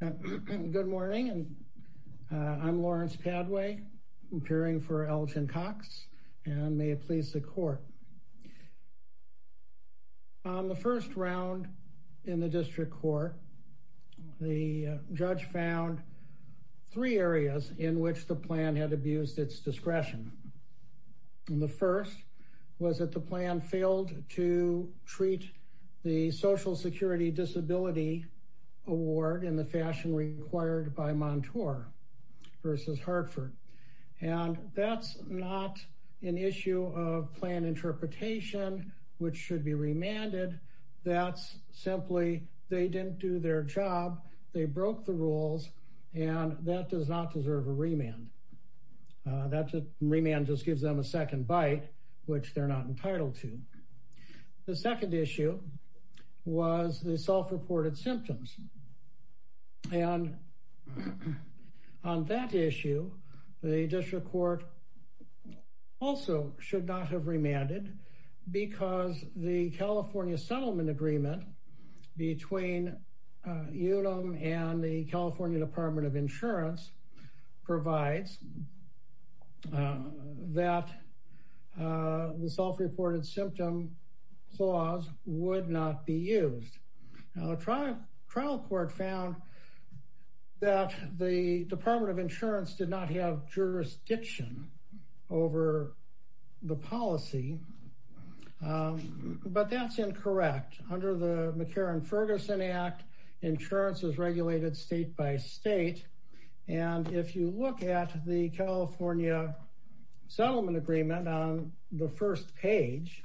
Good morning. I'm Lawrence Padway, appearing for Allgin Cox, and may it please the court. On the first round in the district court, the judge found three areas in which the plan had abused its discretion. The first was that the plan failed to treat the Social Security Disability Award in the fashion required by Montour v. Hartford. And that's not an issue of plan interpretation, which should be remanded. That's simply they didn't do their job, they broke the rules, and that does not deserve a remand. That remand just self-reported symptoms. And on that issue, the district court also should not have remanded because the California Settlement Agreement between UDEM and the California Department of Insurance provides that the self-reported symptom clause would not be used. Now, the trial court found that the Department of Insurance did not have jurisdiction over the policy, but that's incorrect. Under the McCarran-Ferguson Act, insurance is regulated state by state. And if you look at the California Settlement Agreement on the first page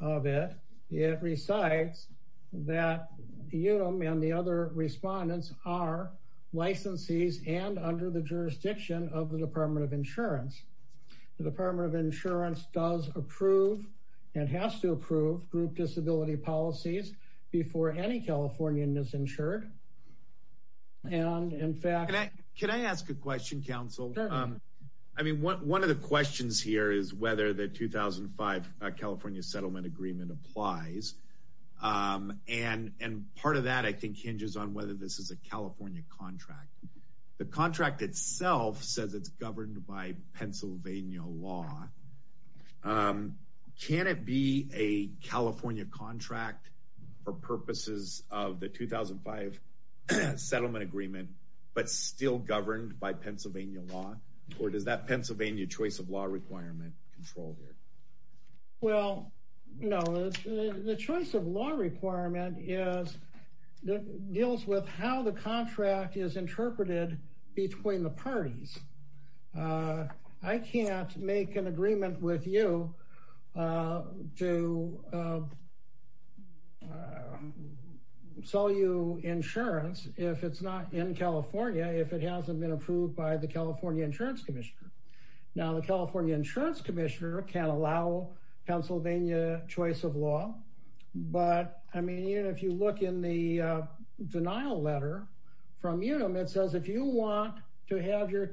of it, it recites that UDEM and the other respondents are licensees and under the jurisdiction of the Department of Insurance. The Department of Insurance does approve and has to approve group disability policies before any Californian is insured. And in fact... Can I ask a question, counsel? I mean, one of the questions here is whether the 2005 California Settlement Agreement applies. And part of that, I think, hinges on whether this is a California contract. The contract itself says it's governed by Pennsylvania law. Can it be a California contract for purposes of the 2005 Settlement Agreement, but still governed by Pennsylvania law? Or does that Pennsylvania choice of law requirement control here? Well, no. The choice of law requirement deals with how the contract is interpreted between the parties. I can't make an agreement with you to sell you insurance if it's not in California, if it hasn't been approved by the California Insurance Commissioner. Now, the California Insurance Commissioner can't allow Pennsylvania choice of law. But I mean, if you look in the denial letter from UDEM, it says if you want to have your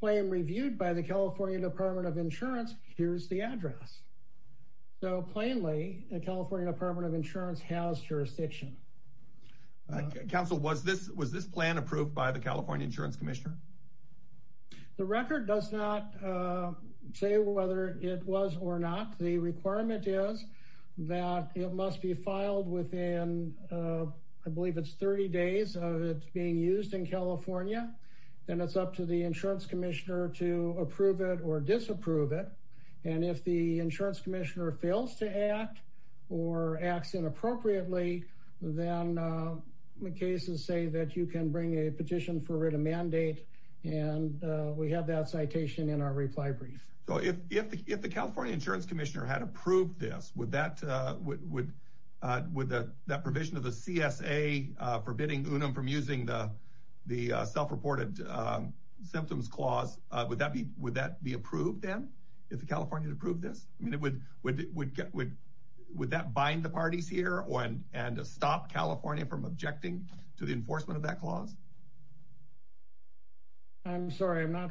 claim reviewed by the California Department of Insurance, here's the address. So plainly, the California Department of Insurance has jurisdiction. Counsel, was this plan approved by the California Insurance Commissioner? The record does not say whether it was or not. The requirement is that it must be filed within, I believe it's 30 days of it being used in California. And it's up to the insurance commissioner to approve it or disapprove it. And if the insurance commissioner fails to act or acts inappropriately, then the cases say that you can bring a petition for a mandate and we have that citation in our reply brief. So if the California Insurance Commissioner had approved this, would that provision of the CSA forbidding UDEM from using the self-reported symptoms clause, would that be approved then, if the California approved this? I mean, would that bind the parties here and stop California from objecting to the enforcement of that clause? I'm sorry, I'm not.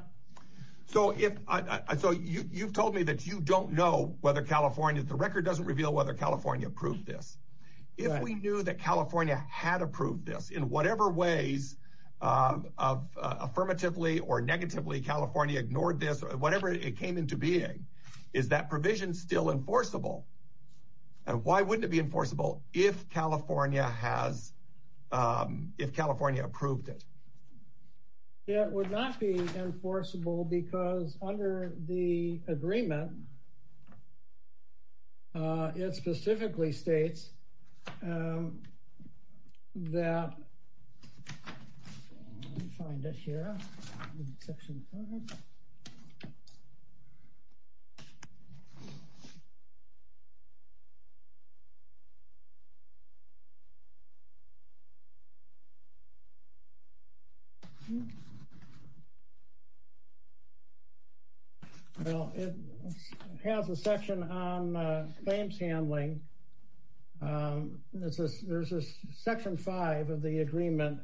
So you've told me that you don't know whether California, the record doesn't reveal whether California approved this. If we knew that California had approved this in whatever ways, affirmatively or negatively, California ignored this, whatever it came into being, is that provision still enforceable? And why wouldn't it be if California approved it? It would not be enforceable because under the agreement, it specifically states that, let me find it here, well, it has a section on claims handling. There's a section five of the agreement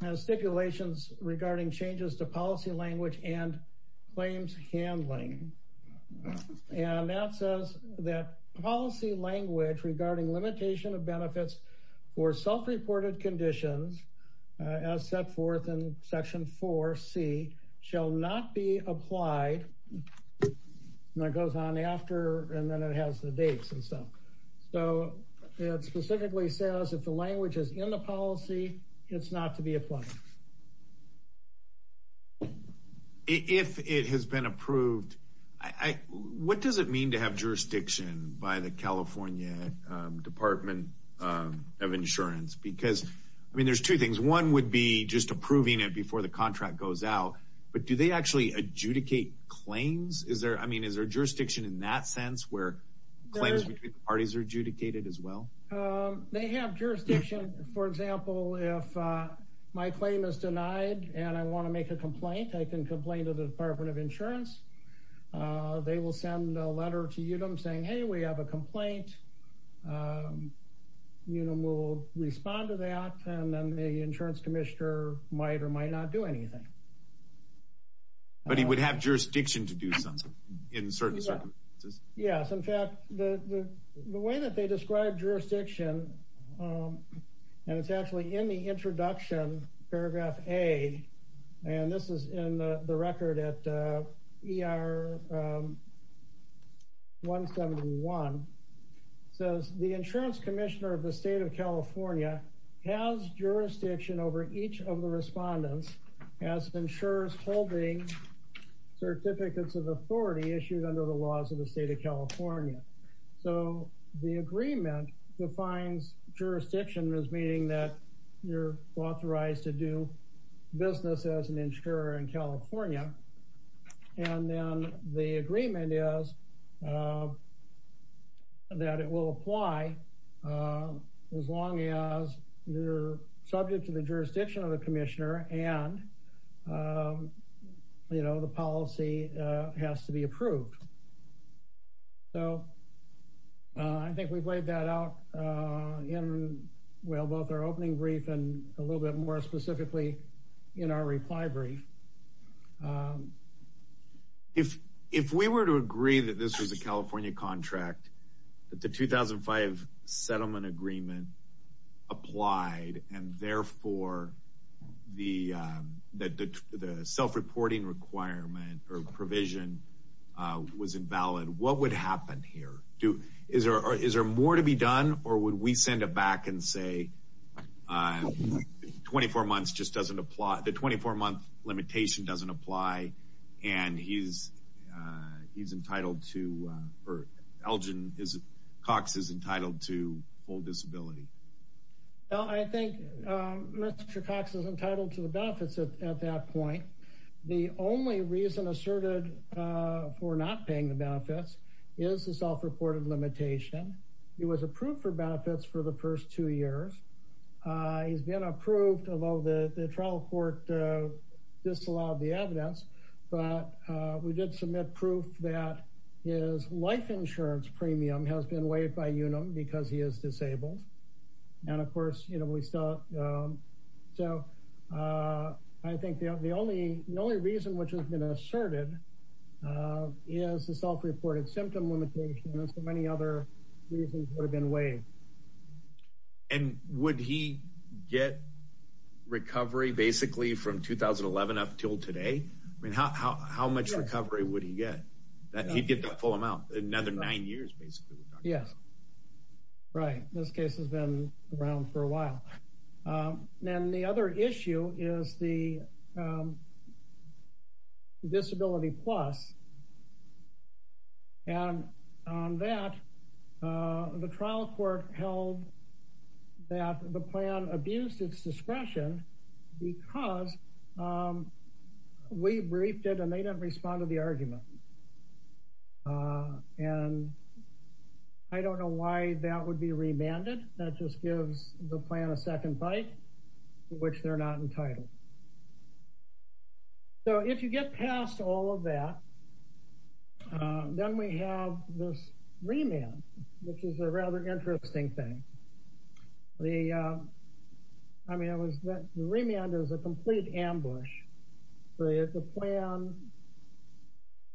has stipulations regarding changes to policy language and claims handling. And that says that policy language regarding limitation of benefits for self-reported conditions as set forth in section four C shall not be applied. And that goes on after and then it has the dates and stuff. So it specifically says if the language is in the policy, it's not to be applied. If it has been approved, what does it mean to have jurisdiction by the California Department of Insurance? Because I mean, there's two things. One would be just approving it before the contract goes out. But do they actually adjudicate claims? I mean, is there jurisdiction in that sense where claims between parties are adjudicated as well? They have jurisdiction. For example, if my claim is denied and I want to make a complaint, I can complain to the Department of Insurance. They will send a letter to UDEM saying, hey, we have a complaint. UDEM will respond to that and then the insurance commissioner might or might not do anything. But he would have jurisdiction to do something in certain circumstances? Yes. In fact, the way that they describe jurisdiction, and it's actually in the introduction, paragraph A, and this is in the record at ER 171, says the insurance commissioner of the state of California has jurisdiction over each of the respondents as insurers holding certificates of authority issued under the laws of the state of California. So the agreement defines jurisdiction as meaning that you're authorized to do business as an insurer in California. And then the agreement is that it will apply as long as you're subject to the jurisdiction of the commissioner and the policy has to be approved. So I think we've laid that out in, well, both our opening brief and a little bit more specifically in our reply brief. If we were to agree that this was a California contract, that the 2005 settlement agreement applied and therefore the self-reporting requirement or provision was invalid, what would happen here? Is there more to be done or would we send it back and say 24 months just doesn't apply, the 24-month limitation doesn't apply and he's entitled to, or Elgin Cox is entitled to full disability? No, I think Mr. Cox is entitled to the benefits at that point. The only reason asserted for not paying the benefits is the self-reported limitation. He was approved for benefits for the first two years. He's been approved, although the trial court disallowed the evidence, but we did submit proof that his life insurance premium has been waived by UNUM because he is disabled. And of course, you know, we still, so I think the only reason which has been asserted is the self-reported symptom limitation and so many other reasons would have been waived. And would he get recovery basically from 2011 up until today? I mean, how much recovery would he get? He'd get that full amount, another nine years basically. Yes, right. This case has been around for a while. Then the other issue is the disability plus. And on that, uh, the trial court held that the plan abused its discretion because, um, we briefed it and they didn't respond to the argument. Uh, and I don't know why that would be remanded. That just gives the plan a second bite, which they're not entitled. So if you get past all of that, um, then we have this remand, which is a rather interesting thing. The, um, I mean, it was that remand is a complete ambush. The plan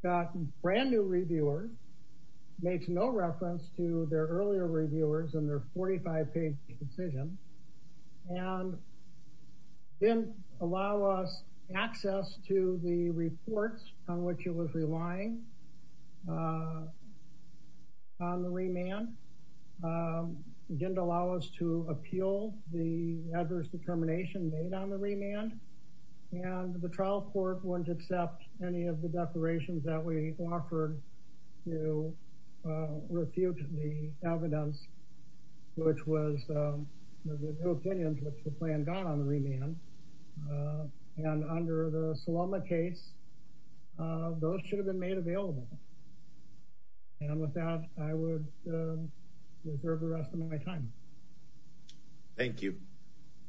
got brand new reviewers, makes no reference to their earlier reviewers and their 45 page decision. And didn't allow us access to the reports on which it was relying, uh, on the remand. Um, didn't allow us to appeal the adverse determination made on the remand and the trial court wouldn't accept any of the declarations that we offered to, uh, refute the evidence, which was, um, no opinions, which the plan got on the remand. And under the Saloma case, uh, those should have been made available. And with that, I would, um, reserve the rest of my time. Thank you.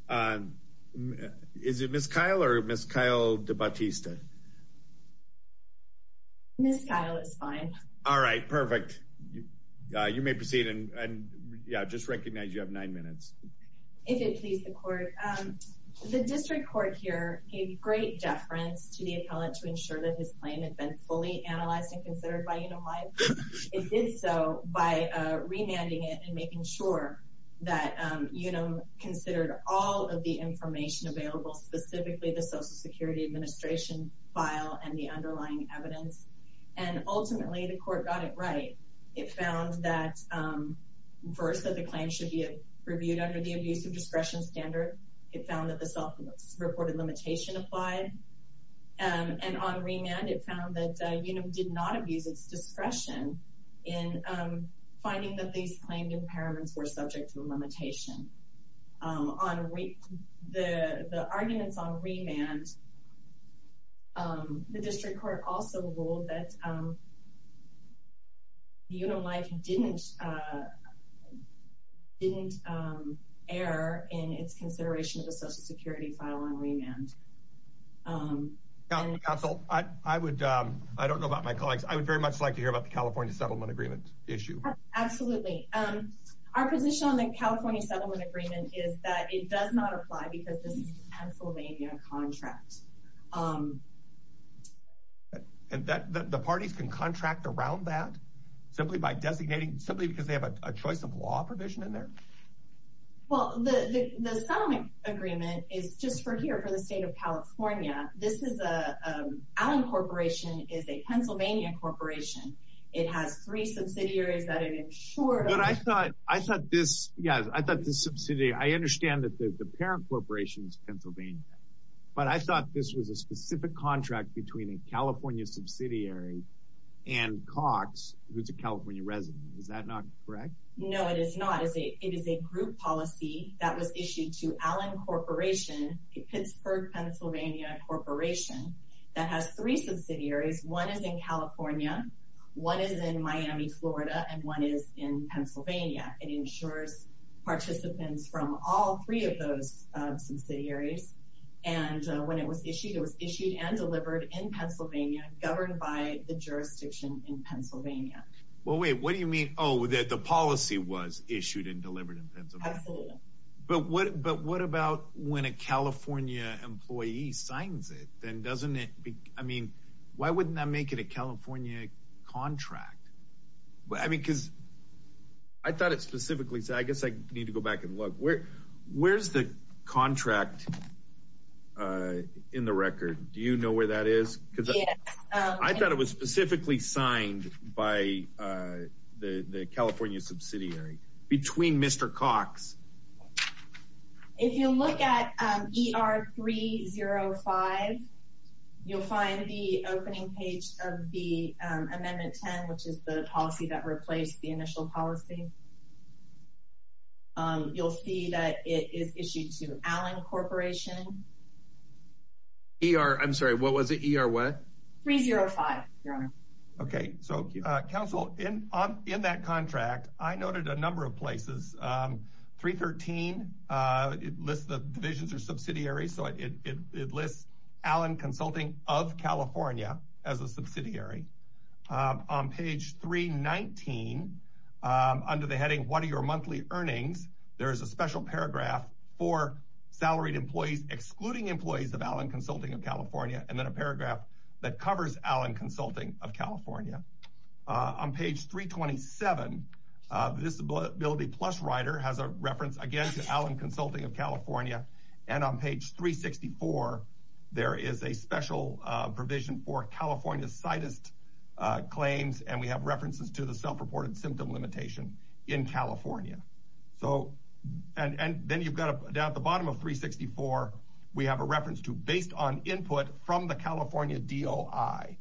Um, is it Ms. Kyle or Ms. Kyle DeBattista? Ms. Kyle is fine. All right, perfect. You, uh, you may proceed and, and yeah, just recognize you have nine minutes. If it pleases the court, um, the district court here gave great deference to the appellate to ensure that his claim had been fully analyzed and considered by, you know, why it did so by, uh, remanding it and making sure that, um, you know, considered all of the information available, specifically the social security administration file and the underlying evidence. And ultimately the court got it right. It found that, um, first that the claim should be reviewed under the abuse of discretion standard. It found that the self reported limitation applied. Um, and on remand, it found that, uh, you know, did not abuse its discretion in, um, finding that these claimed impairments were um, the district court also ruled that, um, you know, life didn't, uh, didn't, um, err in its consideration of the social security file on remand. Um, I would, um, I don't know about my colleagues. I would very much like to hear about the California settlement agreement issue. Absolutely. Um, our position on the California settlement agreement is that it does not apply because this is Pennsylvania contract. Um, and that the parties can contract around that simply by designating simply because they have a choice of law provision in there. Well, the, the, the settlement agreement is just for here, for the state of California. This is a, um, Allen corporation is a Pennsylvania corporation. It has three subsidiaries that it insured. I thought, I thought this, I thought this subsidiary, I understand that the parent corporation is Pennsylvania, but I thought this was a specific contract between a California subsidiary and Cox who's a California resident. Is that not correct? No, it is not. It's a, it is a group policy that was issued to Allen corporation, Pittsburgh, Pennsylvania corporation that has three subsidiaries. One is in California. One is in Miami, Florida, and one is in Pennsylvania. It insures participants from all three of those subsidiaries. And when it was issued, it was issued and delivered in Pennsylvania governed by the jurisdiction in Pennsylvania. Well, wait, what do you mean? Oh, that the policy was issued and delivered in Pennsylvania. But what, but what about when a California employee signs it, then doesn't it be, I mean, why wouldn't that make it a California contract? I mean, cause I thought it specifically said, I guess I need to go back and look where, where's the contract, uh, in the record. Do you know where that is? Cause I thought it was specifically signed by, uh, the, the California subsidiary between Mr. Cox. If you look at ER 305, you'll find the opening page of the amendment 10, which is the policy that replaced the initial policy. Um, you'll see that it is issued to Allen corporation. ER, I'm sorry. What was it? ER what? 305. Your honor. Okay. So, uh, council in, in that contract, I noted a number of places, um, three 13, uh, it lists the divisions are subsidiary. So it, it, it lists Allen consulting of California as a subsidiary, um, on page three 19, um, under the heading, what are your monthly earnings? There is a special paragraph for salaried employees, excluding employees of Allen consulting of California. And then a paragraph that covers Allen consulting of California, uh, on page three 27, uh, disability plus writer has a reference again to Allen consulting of California. And on page three 64, there is a special, uh, provision for California's slightest, uh, claims. And we have references to the self-reported symptom limitation in California. So, and, and then you've got to down at the bottom of three 64, we have a reference to based on input from the California DOI.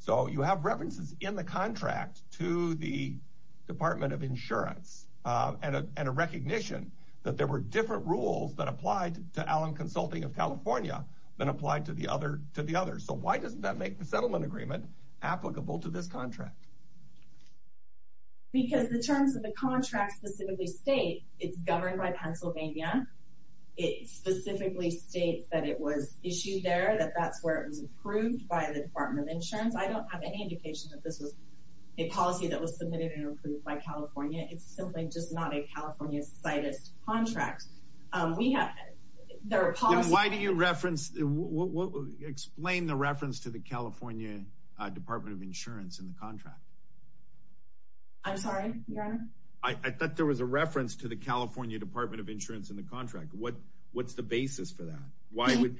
So you have references in the contract to the department of insurance, uh, and a, and a recognition that there were different rules that applied to Allen consulting of California than applied to the other, to the other. So why doesn't that make the settlement agreement applicable to this contract? Because the terms of the contract specifically state it's governed by Pennsylvania. It specifically states that it was issued there, that that's where it was approved by the department of insurance. I don't have any indication that this was a policy that was submitted and approved by California. It's simply just not a California slightest contract. Um, we have, there are, why do you reference, explain the reference to the California department of insurance in the contract? I'm sorry, I thought there was a reference to the contract. What, what's the basis for that? Why would,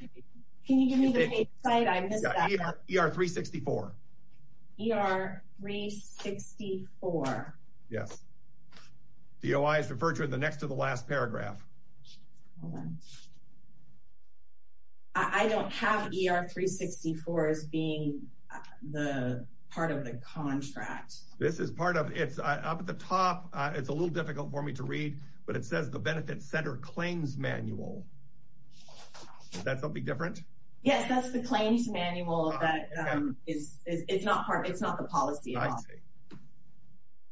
can you give me the site? I missed that ER three 64 ER three 64. Yes. DOI is referred to in the next to the last paragraph. I don't have ER three 64 as being the part of the contract. This is part of it's up at the top. It's a little difficult for me to read, but it says the benefit center claims manual. Is that something different? Yes. That's the claims manual that, um, is it's not part of, it's not the policy.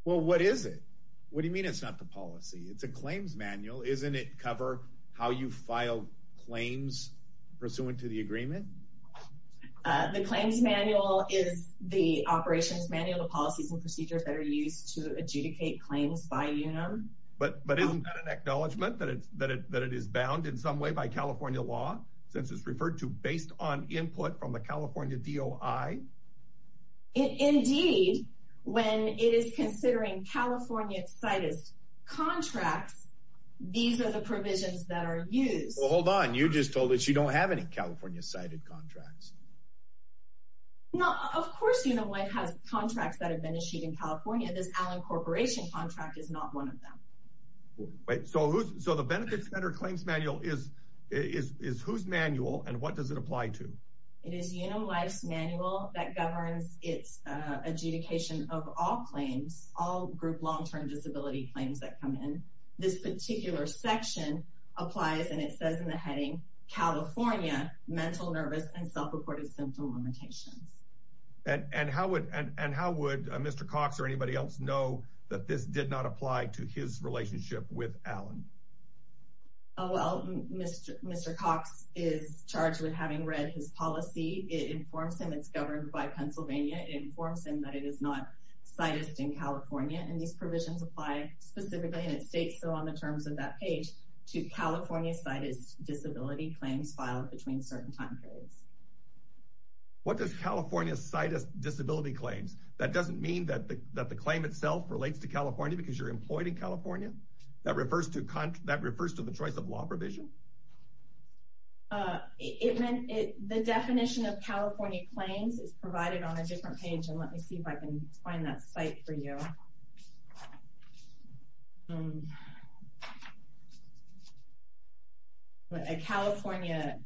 Well, what is it? What do you mean? It's not the policy. It's a claims manual. Isn't it cover how you file claims pursuant to the agreement? Uh, the claims manual is the you know, but, but isn't that an acknowledgement that it's, that it, that it is bound in some way by California law since it's referred to based on input from the California DOI. Indeed, when it is considering California cited contracts, these are the provisions that are used. Well, hold on. You just told us you don't have any California cited contracts. No, of course, you know, what has contracts that have been issued in California, this Allen corporation contract is not one of them. Wait. So who's, so the benefits center claims manual is, is, is whose manual and what does it apply to? It is, you know, life's manual that governs it's a adjudication of all claims, all group long-term disability claims that come in this particular section applies. And it says in the heading, California mental nervous and that this did not apply to his relationship with Allen. Oh, well, Mr. Mr. Cox is charged with having read his policy. It informs him it's governed by Pennsylvania. It informs him that it is not cited in California. And these provisions apply specifically in its state. So on the terms of that page to California cited disability claims filed between certain time periods. What does California cited disability claims? That doesn't mean that the, that the claim itself relates to California because you're employed in California that refers to con that refers to the choice of law provision. Uh, it meant it, the definition of California claims is provided on a different page and let me see if I can find that site for you. Um, but a California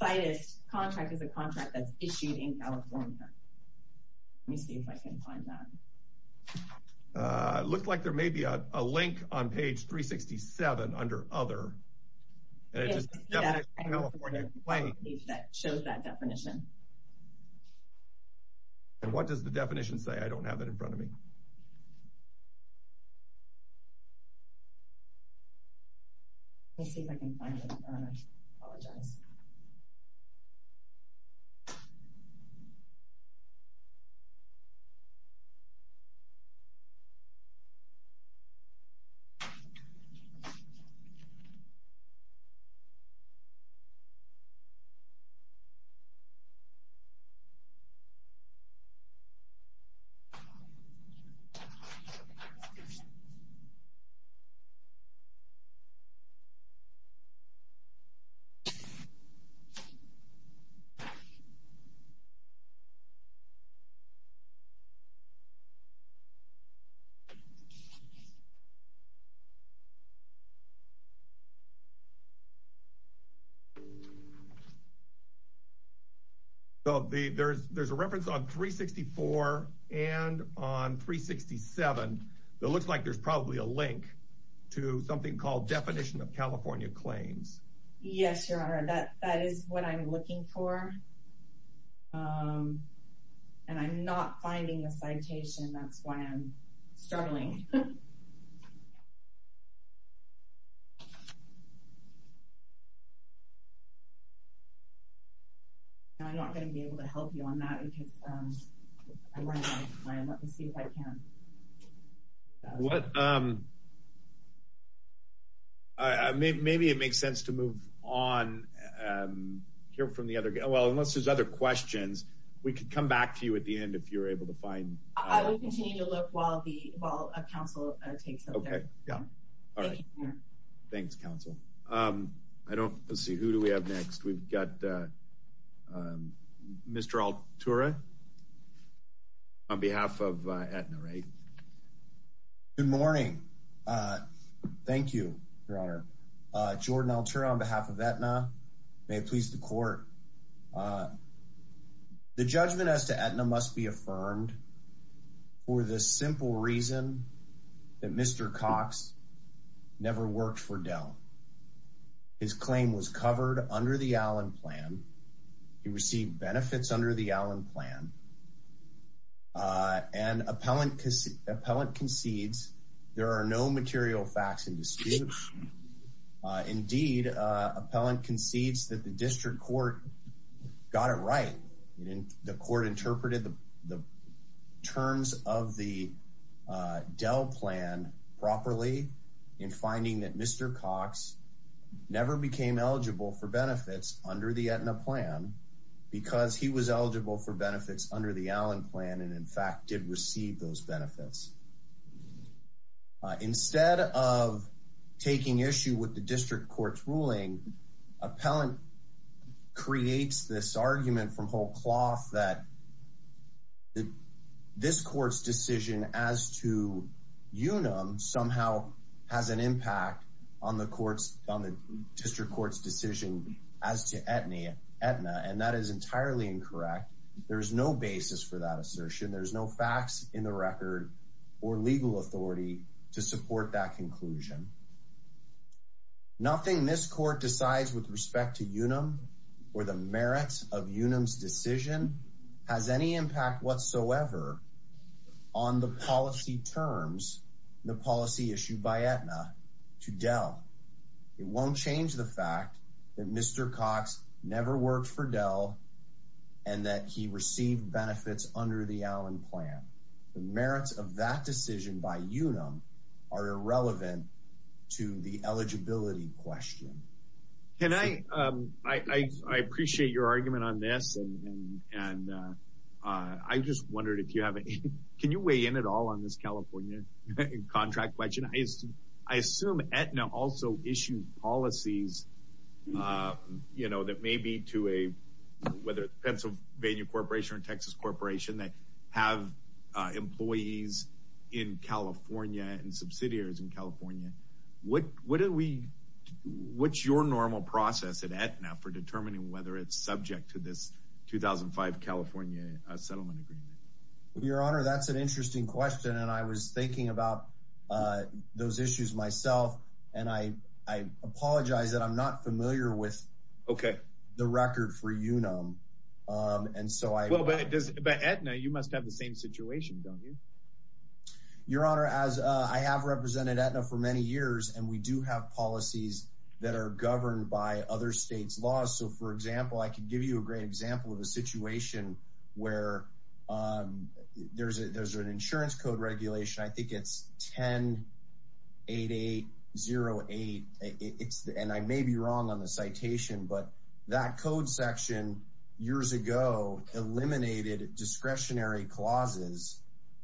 cited contract is a contract that's issued in California. Let me see if I can find that. Uh, it looks like there may be a link on page 367 under other that shows that definition. And what does the definition say? I don't have it in front of me. Let me see if I can find it. I apologize. So the, there's, there's a reference on 364 and on 367 that looks like there's probably a link to something called definition of California claims. Yes, your honor. That, that is what I'm looking for. Um, and I'm not finding the citation. That's why I'm struggling. I'm not going to be able to help you on that. Let me see if I can. What, um, uh, maybe, maybe it makes sense to move on, um, here from the other guy. Well, unless there's other questions, we could come back to you at the end. If you're able to find, I would continue to look while the, while a council takes. Okay. Yeah. All right. Thanks council. Um, I don't, let's see, who do we have next? We've got, uh, um, Mr. Altura on behalf of, uh, Aetna, right? Good morning. Uh, thank you, your honor. Uh, Jordan Altura on behalf of Aetna may please the court. Uh, the judgment as to Aetna must be for the simple reason that Mr. Cox never worked for Dell. His claim was covered under the Allen plan. He received benefits under the Allen plan. Uh, and appellant, appellant concedes there are no material facts in dispute. Uh, indeed, uh, appellant concedes that the district court got it right. The court interpreted the terms of the, uh, Dell plan properly in finding that Mr. Cox never became eligible for benefits under the Aetna plan because he was eligible for benefits under the Allen plan. And in fact, did receive those benefits. Uh, instead of taking issue with the district court's ruling, appellant creates this argument from whole cloth that this court's decision as to UNUM somehow has an impact on the courts, on the district court's decision as to Aetna. And that is entirely incorrect. There is no basis for that assertion. There's no facts in the record or legal authority to support that conclusion. Nothing this court decides with respect to UNUM or the merits of UNUM's decision has any impact whatsoever on the policy terms, the policy issued by Aetna to Dell. It won't change the fact that Mr. Cox never worked for Dell and that he received benefits under the Allen plan. The merits of that decision by UNUM are irrelevant to the eligibility question. Can I, um, I, I, I appreciate your argument on this and, and, uh, uh, I just wondered if you haven't, can you weigh in at all on this California contract question? I assume Aetna also issued policies, uh, you know, that may be to a, whether it's Pennsylvania corporation or Texas corporation that have, uh, employees in California and subsidiaries in California. What, what did we, what's your normal process at Aetna for determining whether it's subject to this 2005 California settlement agreement? Your honor, that's an interesting question. And I was thinking about, uh, those issues myself, and I, I apologize that I'm not familiar with the record for UNUM. Um, and so I, well, but it does, but Aetna, you must have the same situation, don't you? Your honor, as, uh, I have represented Aetna for many years and we do have policies that are governed by other States laws. So for example, I can give you a great example of a situation where, um, there's a, there's an insurance code regulation. I think it's 10-8808. It's, and I may be wrong on the citation, but that code section years ago eliminated discretionary clauses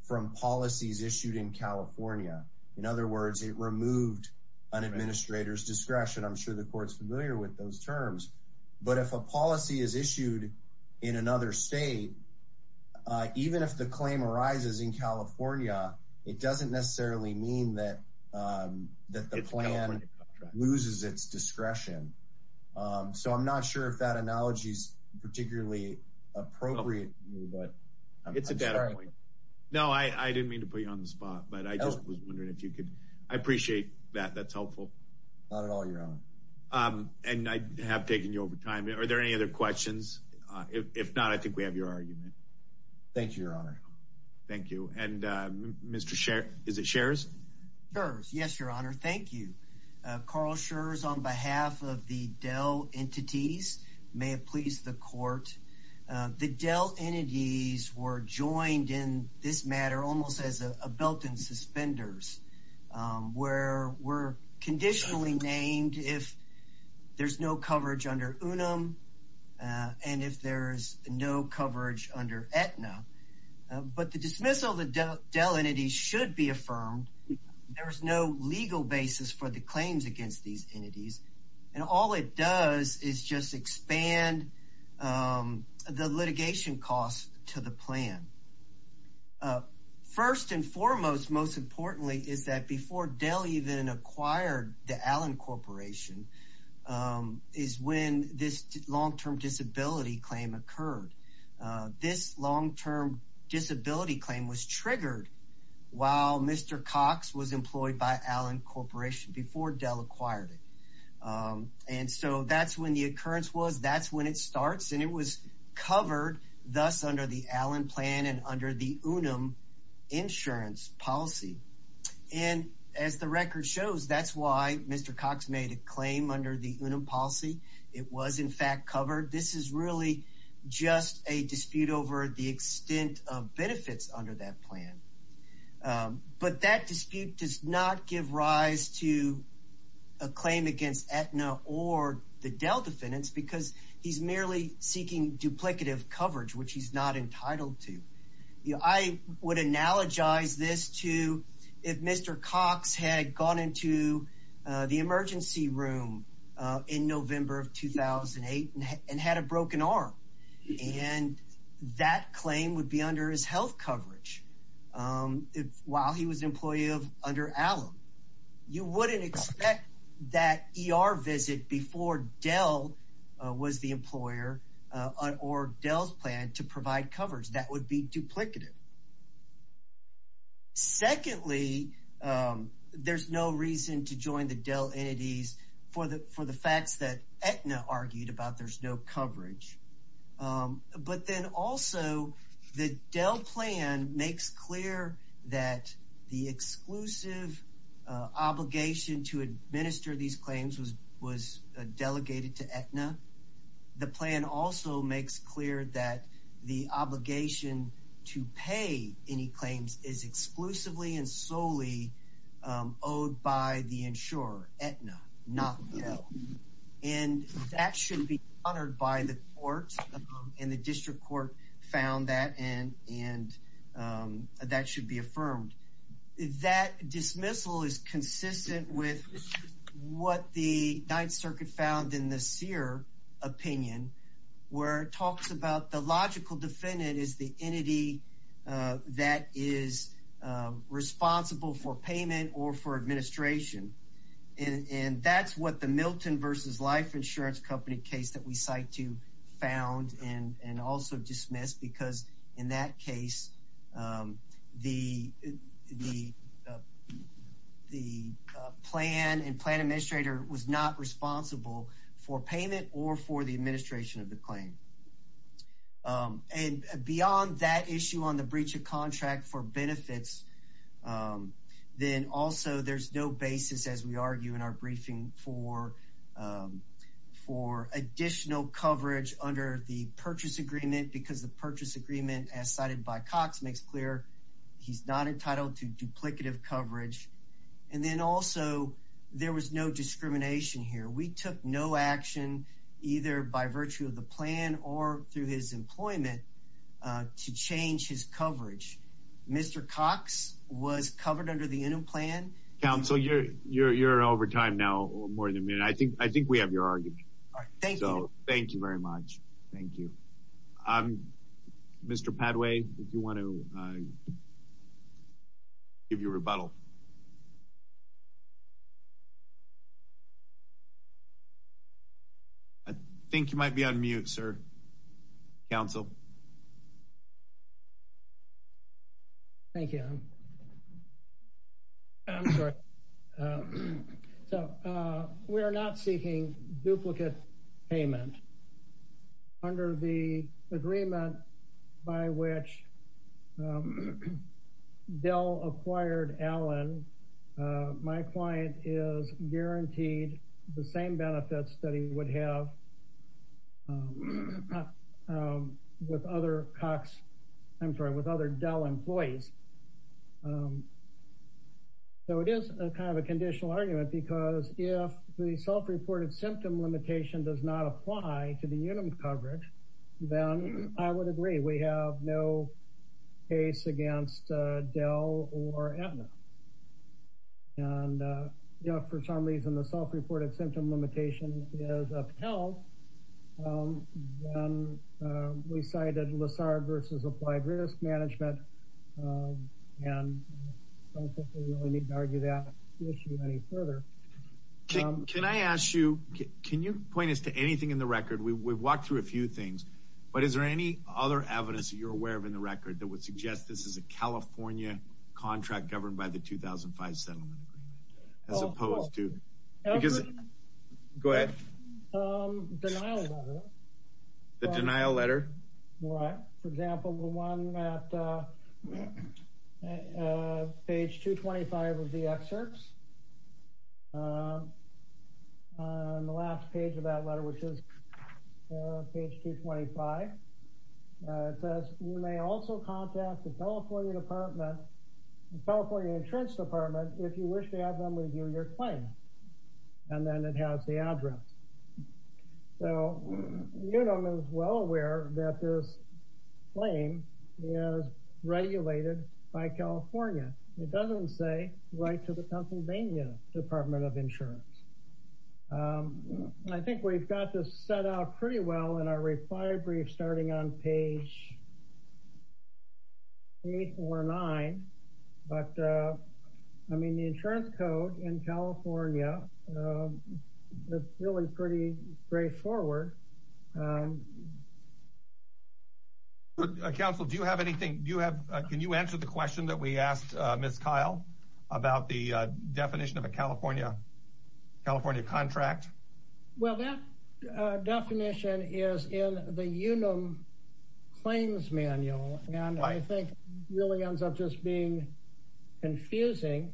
from policies issued in California. In other words, it removed an administrator's discretion. I'm sure the court's familiar with those terms, but if a policy is issued in another state, uh, even if the claim arises in California, it doesn't necessarily mean that, um, that the plan loses its discretion. Um, so I'm not sure if that analogy is particularly appropriate. It's a data point. No, I, I didn't mean to put you on the spot, but I just was wondering if you could, I appreciate that. That's helpful. Not at all, your honor. Um, and I have taken you over time. Are there any other questions? Uh, if not, I think we have your argument. Thank you, your honor. Thank you. And, uh, Mr. Scherz, is it Scherz? Scherz, yes, your honor. Thank you. Carl Scherz on behalf of the Dell entities, may it please the court. Uh, the Dell entities were where we're conditionally named if there's no coverage under UNUM, uh, and if there's no coverage under Aetna, uh, but the dismissal of the Dell entities should be affirmed. There was no legal basis for the claims against these entities. And all it does is just expand, um, the litigation costs to the plan. Uh, first and foremost, most importantly, is that before Dell even acquired the Allen Corporation, um, is when this long-term disability claim occurred. Uh, this long-term disability claim was triggered while Mr. Cox was employed by Allen Corporation before Dell acquired it. Um, and so that's when the occurrence was, that's when it starts. And it was covered thus under the Allen plan and under the UNUM insurance policy. And as the record shows, that's why Mr. Cox made a claim under the UNUM policy. It was in fact covered. This is really just a dispute over the extent of benefits under that because he's merely seeking duplicative coverage, which he's not entitled to. You know, I would analogize this to if Mr. Cox had gone into, uh, the emergency room, uh, in November of 2008 and had a broken arm and that claim would be under his health coverage. Um, if, while he was an employee of, under Allen, you wouldn't expect that ER visit before Dell, uh, was the employer, uh, or Dell's plan to provide coverage. That would be duplicative. Secondly, um, there's no reason to join the Dell entities for the, for the facts that Dell plan makes clear that the exclusive, uh, obligation to administer these claims was, was, uh, delegated to Aetna. The plan also makes clear that the obligation to pay any claims is exclusively and solely, um, owed by the insurer, Aetna, not Dell. And that should be honored by the court and the district court found that and, and, um, that should be affirmed. That dismissal is consistent with what the Ninth Circuit found in the Sear opinion, where it talks about the logical defendant is the entity, uh, that is, uh, responsible for payment or for administration. And, and that's what the Milton versus Life Insurance Company case that we found and, and also dismissed because in that case, um, the, the, uh, the, uh, plan and plan administrator was not responsible for payment or for the administration of the claim. Um, and beyond that issue on the breach of contract for benefits, um, then also there's no basis as we under the purchase agreement because the purchase agreement as cited by Cox makes clear, he's not entitled to duplicative coverage. And then also there was no discrimination here. We took no action either by virtue of the plan or through his employment, uh, to change his coverage. Mr. Cox was covered under the Inum plan. Counsel, you're, you're, you're over time now or more than a minute. I think, I think we have your argument. All right. Thank you. Thank you very much. Thank you. Um, Mr. Padway, if you want to, uh, give your rebuttal. I think you might be on mute, sir. Counsel. Thank you. I'm sorry. Uh, so, uh, we are not seeking duplicate payment under the agreement by which, um, Dell acquired Allen. Uh, my client is guaranteed the same benefits that he would have, um, um, with other Cox, I'm sorry, with other Dell employees. Um, so it is a kind of a conditional argument because if the self-reported symptom limitation does not apply to the Inum coverage, then I would agree. We have no case against, uh, Dell or Aetna. And, uh, you know, for some reason, the self-reported symptom limitation is upheld. Um, then, uh, we cited Lessard versus Applied Risk Management. Um, and I don't think we really need to argue that issue any further. Can I ask you, can you point us to anything in the record? We, we've walked through a few things, but is there any other evidence that you're aware of in the settlement agreement? As opposed to, because, go ahead. Um, the denial letter. The denial letter. Right. For example, the one that, uh, uh, page 225 of the excerpts, um, on the last page of that letter, which is, uh, page 225. Uh, it says, you may also contact the California Department, the California Insurance Department, if you wish to have them review your claim. And then it has the address. So, Inum is well aware that this claim is regulated by California. It doesn't say right to the Pennsylvania Department of Insurance. Um, and I think we've got this set out pretty well in our reply brief, starting on page eight or nine. But, uh, I mean, the insurance code in California, um, it's really pretty straightforward. Um, Counsel, do you have anything, do you have, can you answer the question that we asked, uh, Ms. Kyle about the definition of a California, California contract? Well, that, uh, definition is in the Unum claims manual. And I think it really ends up just being confusing.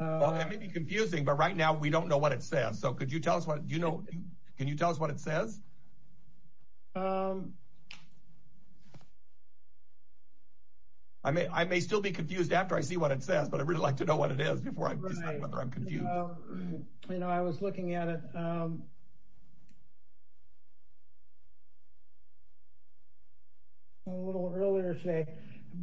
Well, it may be confusing, but right now we don't know what it says. So could you tell us what, do you know, can you tell us what it says? Um, I may, I may still be confused after I see what it says, but I really like to know what it is before I decide whether I'm confused. You know, I was looking at it, um, a little earlier today,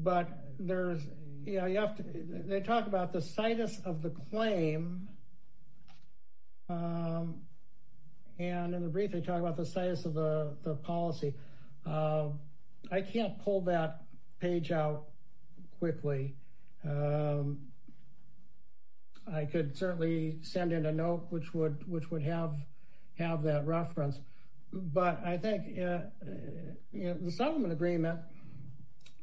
but there's, you know, you have to, they talk about the situs of the claim. Um, and in the brief, they talk about the status of the policy. Um, I can't pull that page out quickly. Um, I could certainly send in a note, which would, which would have, have that reference, but I think, uh, the settlement agreement,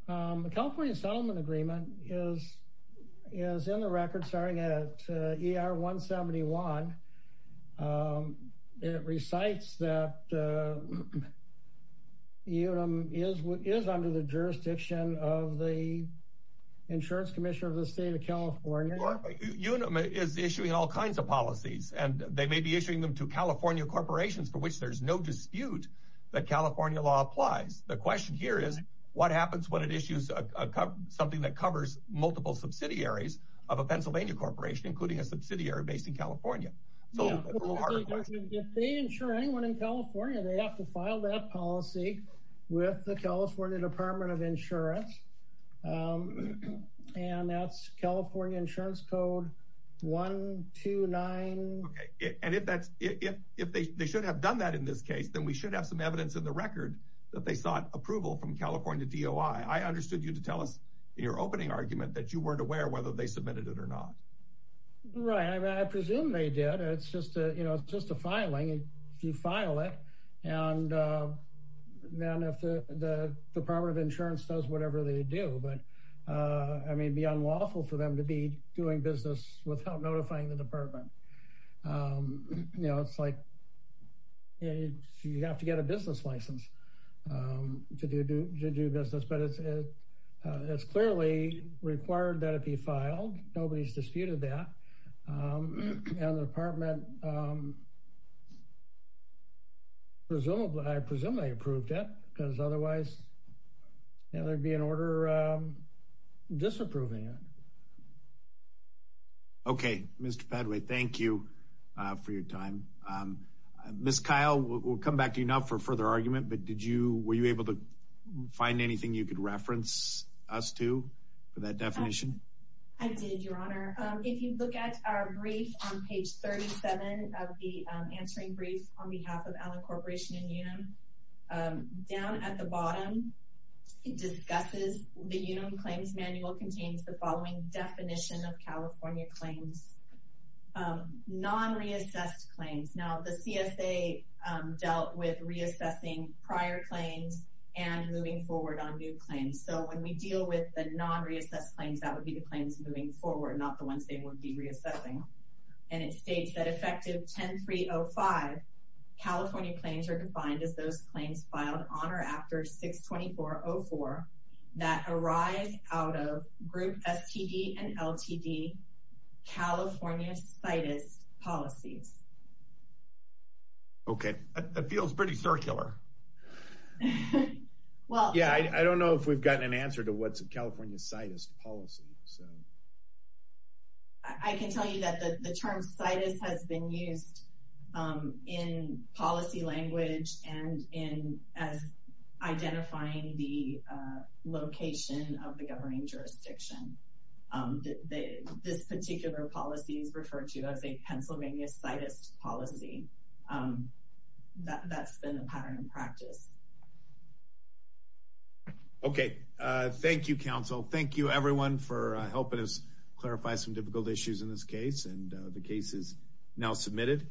um, the California settlement agreement is, is in the record, starting at ER 171. Um, it recites that, uh, is what is under the jurisdiction of the insurance commissioner of the state of California is issuing all kinds of policies and they may be issuing them to California corporations for which there's no dispute that California law applies. The question here is what happens when it issues something that covers multiple subsidiaries of a Pennsylvania corporation, including a subsidiary based in California? If they insure anyone in California, they have to file that policy with the California department of insurance. Um, and that's California insurance code one, two, nine. Okay. And if that's, if, if they, they should have done that in this case, then we should have some evidence in the record that they sought approval from California DOI. I understood you to tell us your opening argument that you weren't aware of whether they submitted it or not. Right. I mean, I presume they did. It's just a, you know, it's just a filing. If you file it and, uh, then if the, the department of insurance does whatever they do, but, uh, I mean, it'd be unlawful for them to be doing business without notifying the department. Um, you know, it's like, you have to get a business license, um, to do business, but it's, uh, uh, it's clearly required that it be filed. Nobody's disputed that. Um, and the department, um, presumably, I presume they approved it because otherwise, you know, there'd be an order, um, disapproving it. Okay. Mr. Padway, thank you, uh, for your time. Um, Ms. Kyle, we'll come back to you now for anything you could reference us to for that definition. I did, your honor. Um, if you look at our brief on page 37 of the, um, answering brief on behalf of Allen Corporation and Unum, um, down at the bottom, it discusses the Unum claims manual contains the following definition of California claims, um, non reassessed claims. Now the CSA, um, dealt with reassessing prior claims and moving forward on new claims. So when we deal with the non reassessed claims, that would be the claims moving forward, not the ones they would be reassessing. And it states that effective 10, three Oh five California claims are defined as those claims filed on or after six 24 Oh four that arrived out of group STD and LTD California citus policies. Okay. That feels pretty circular. Well, yeah, I don't know if we've gotten an answer to what's a California citus policy. So I can tell you that the term citus has been used, um, in policy language and in as identifying the, uh, location of the governing jurisdiction. Um, the, this particular policy is referred to as a Pennsylvania citus policy. Um, that that's been a pattern in practice. Okay. Uh, thank you, council. Thank you everyone for helping us clarify some difficult issues in this case. And, uh, the case is now submitted.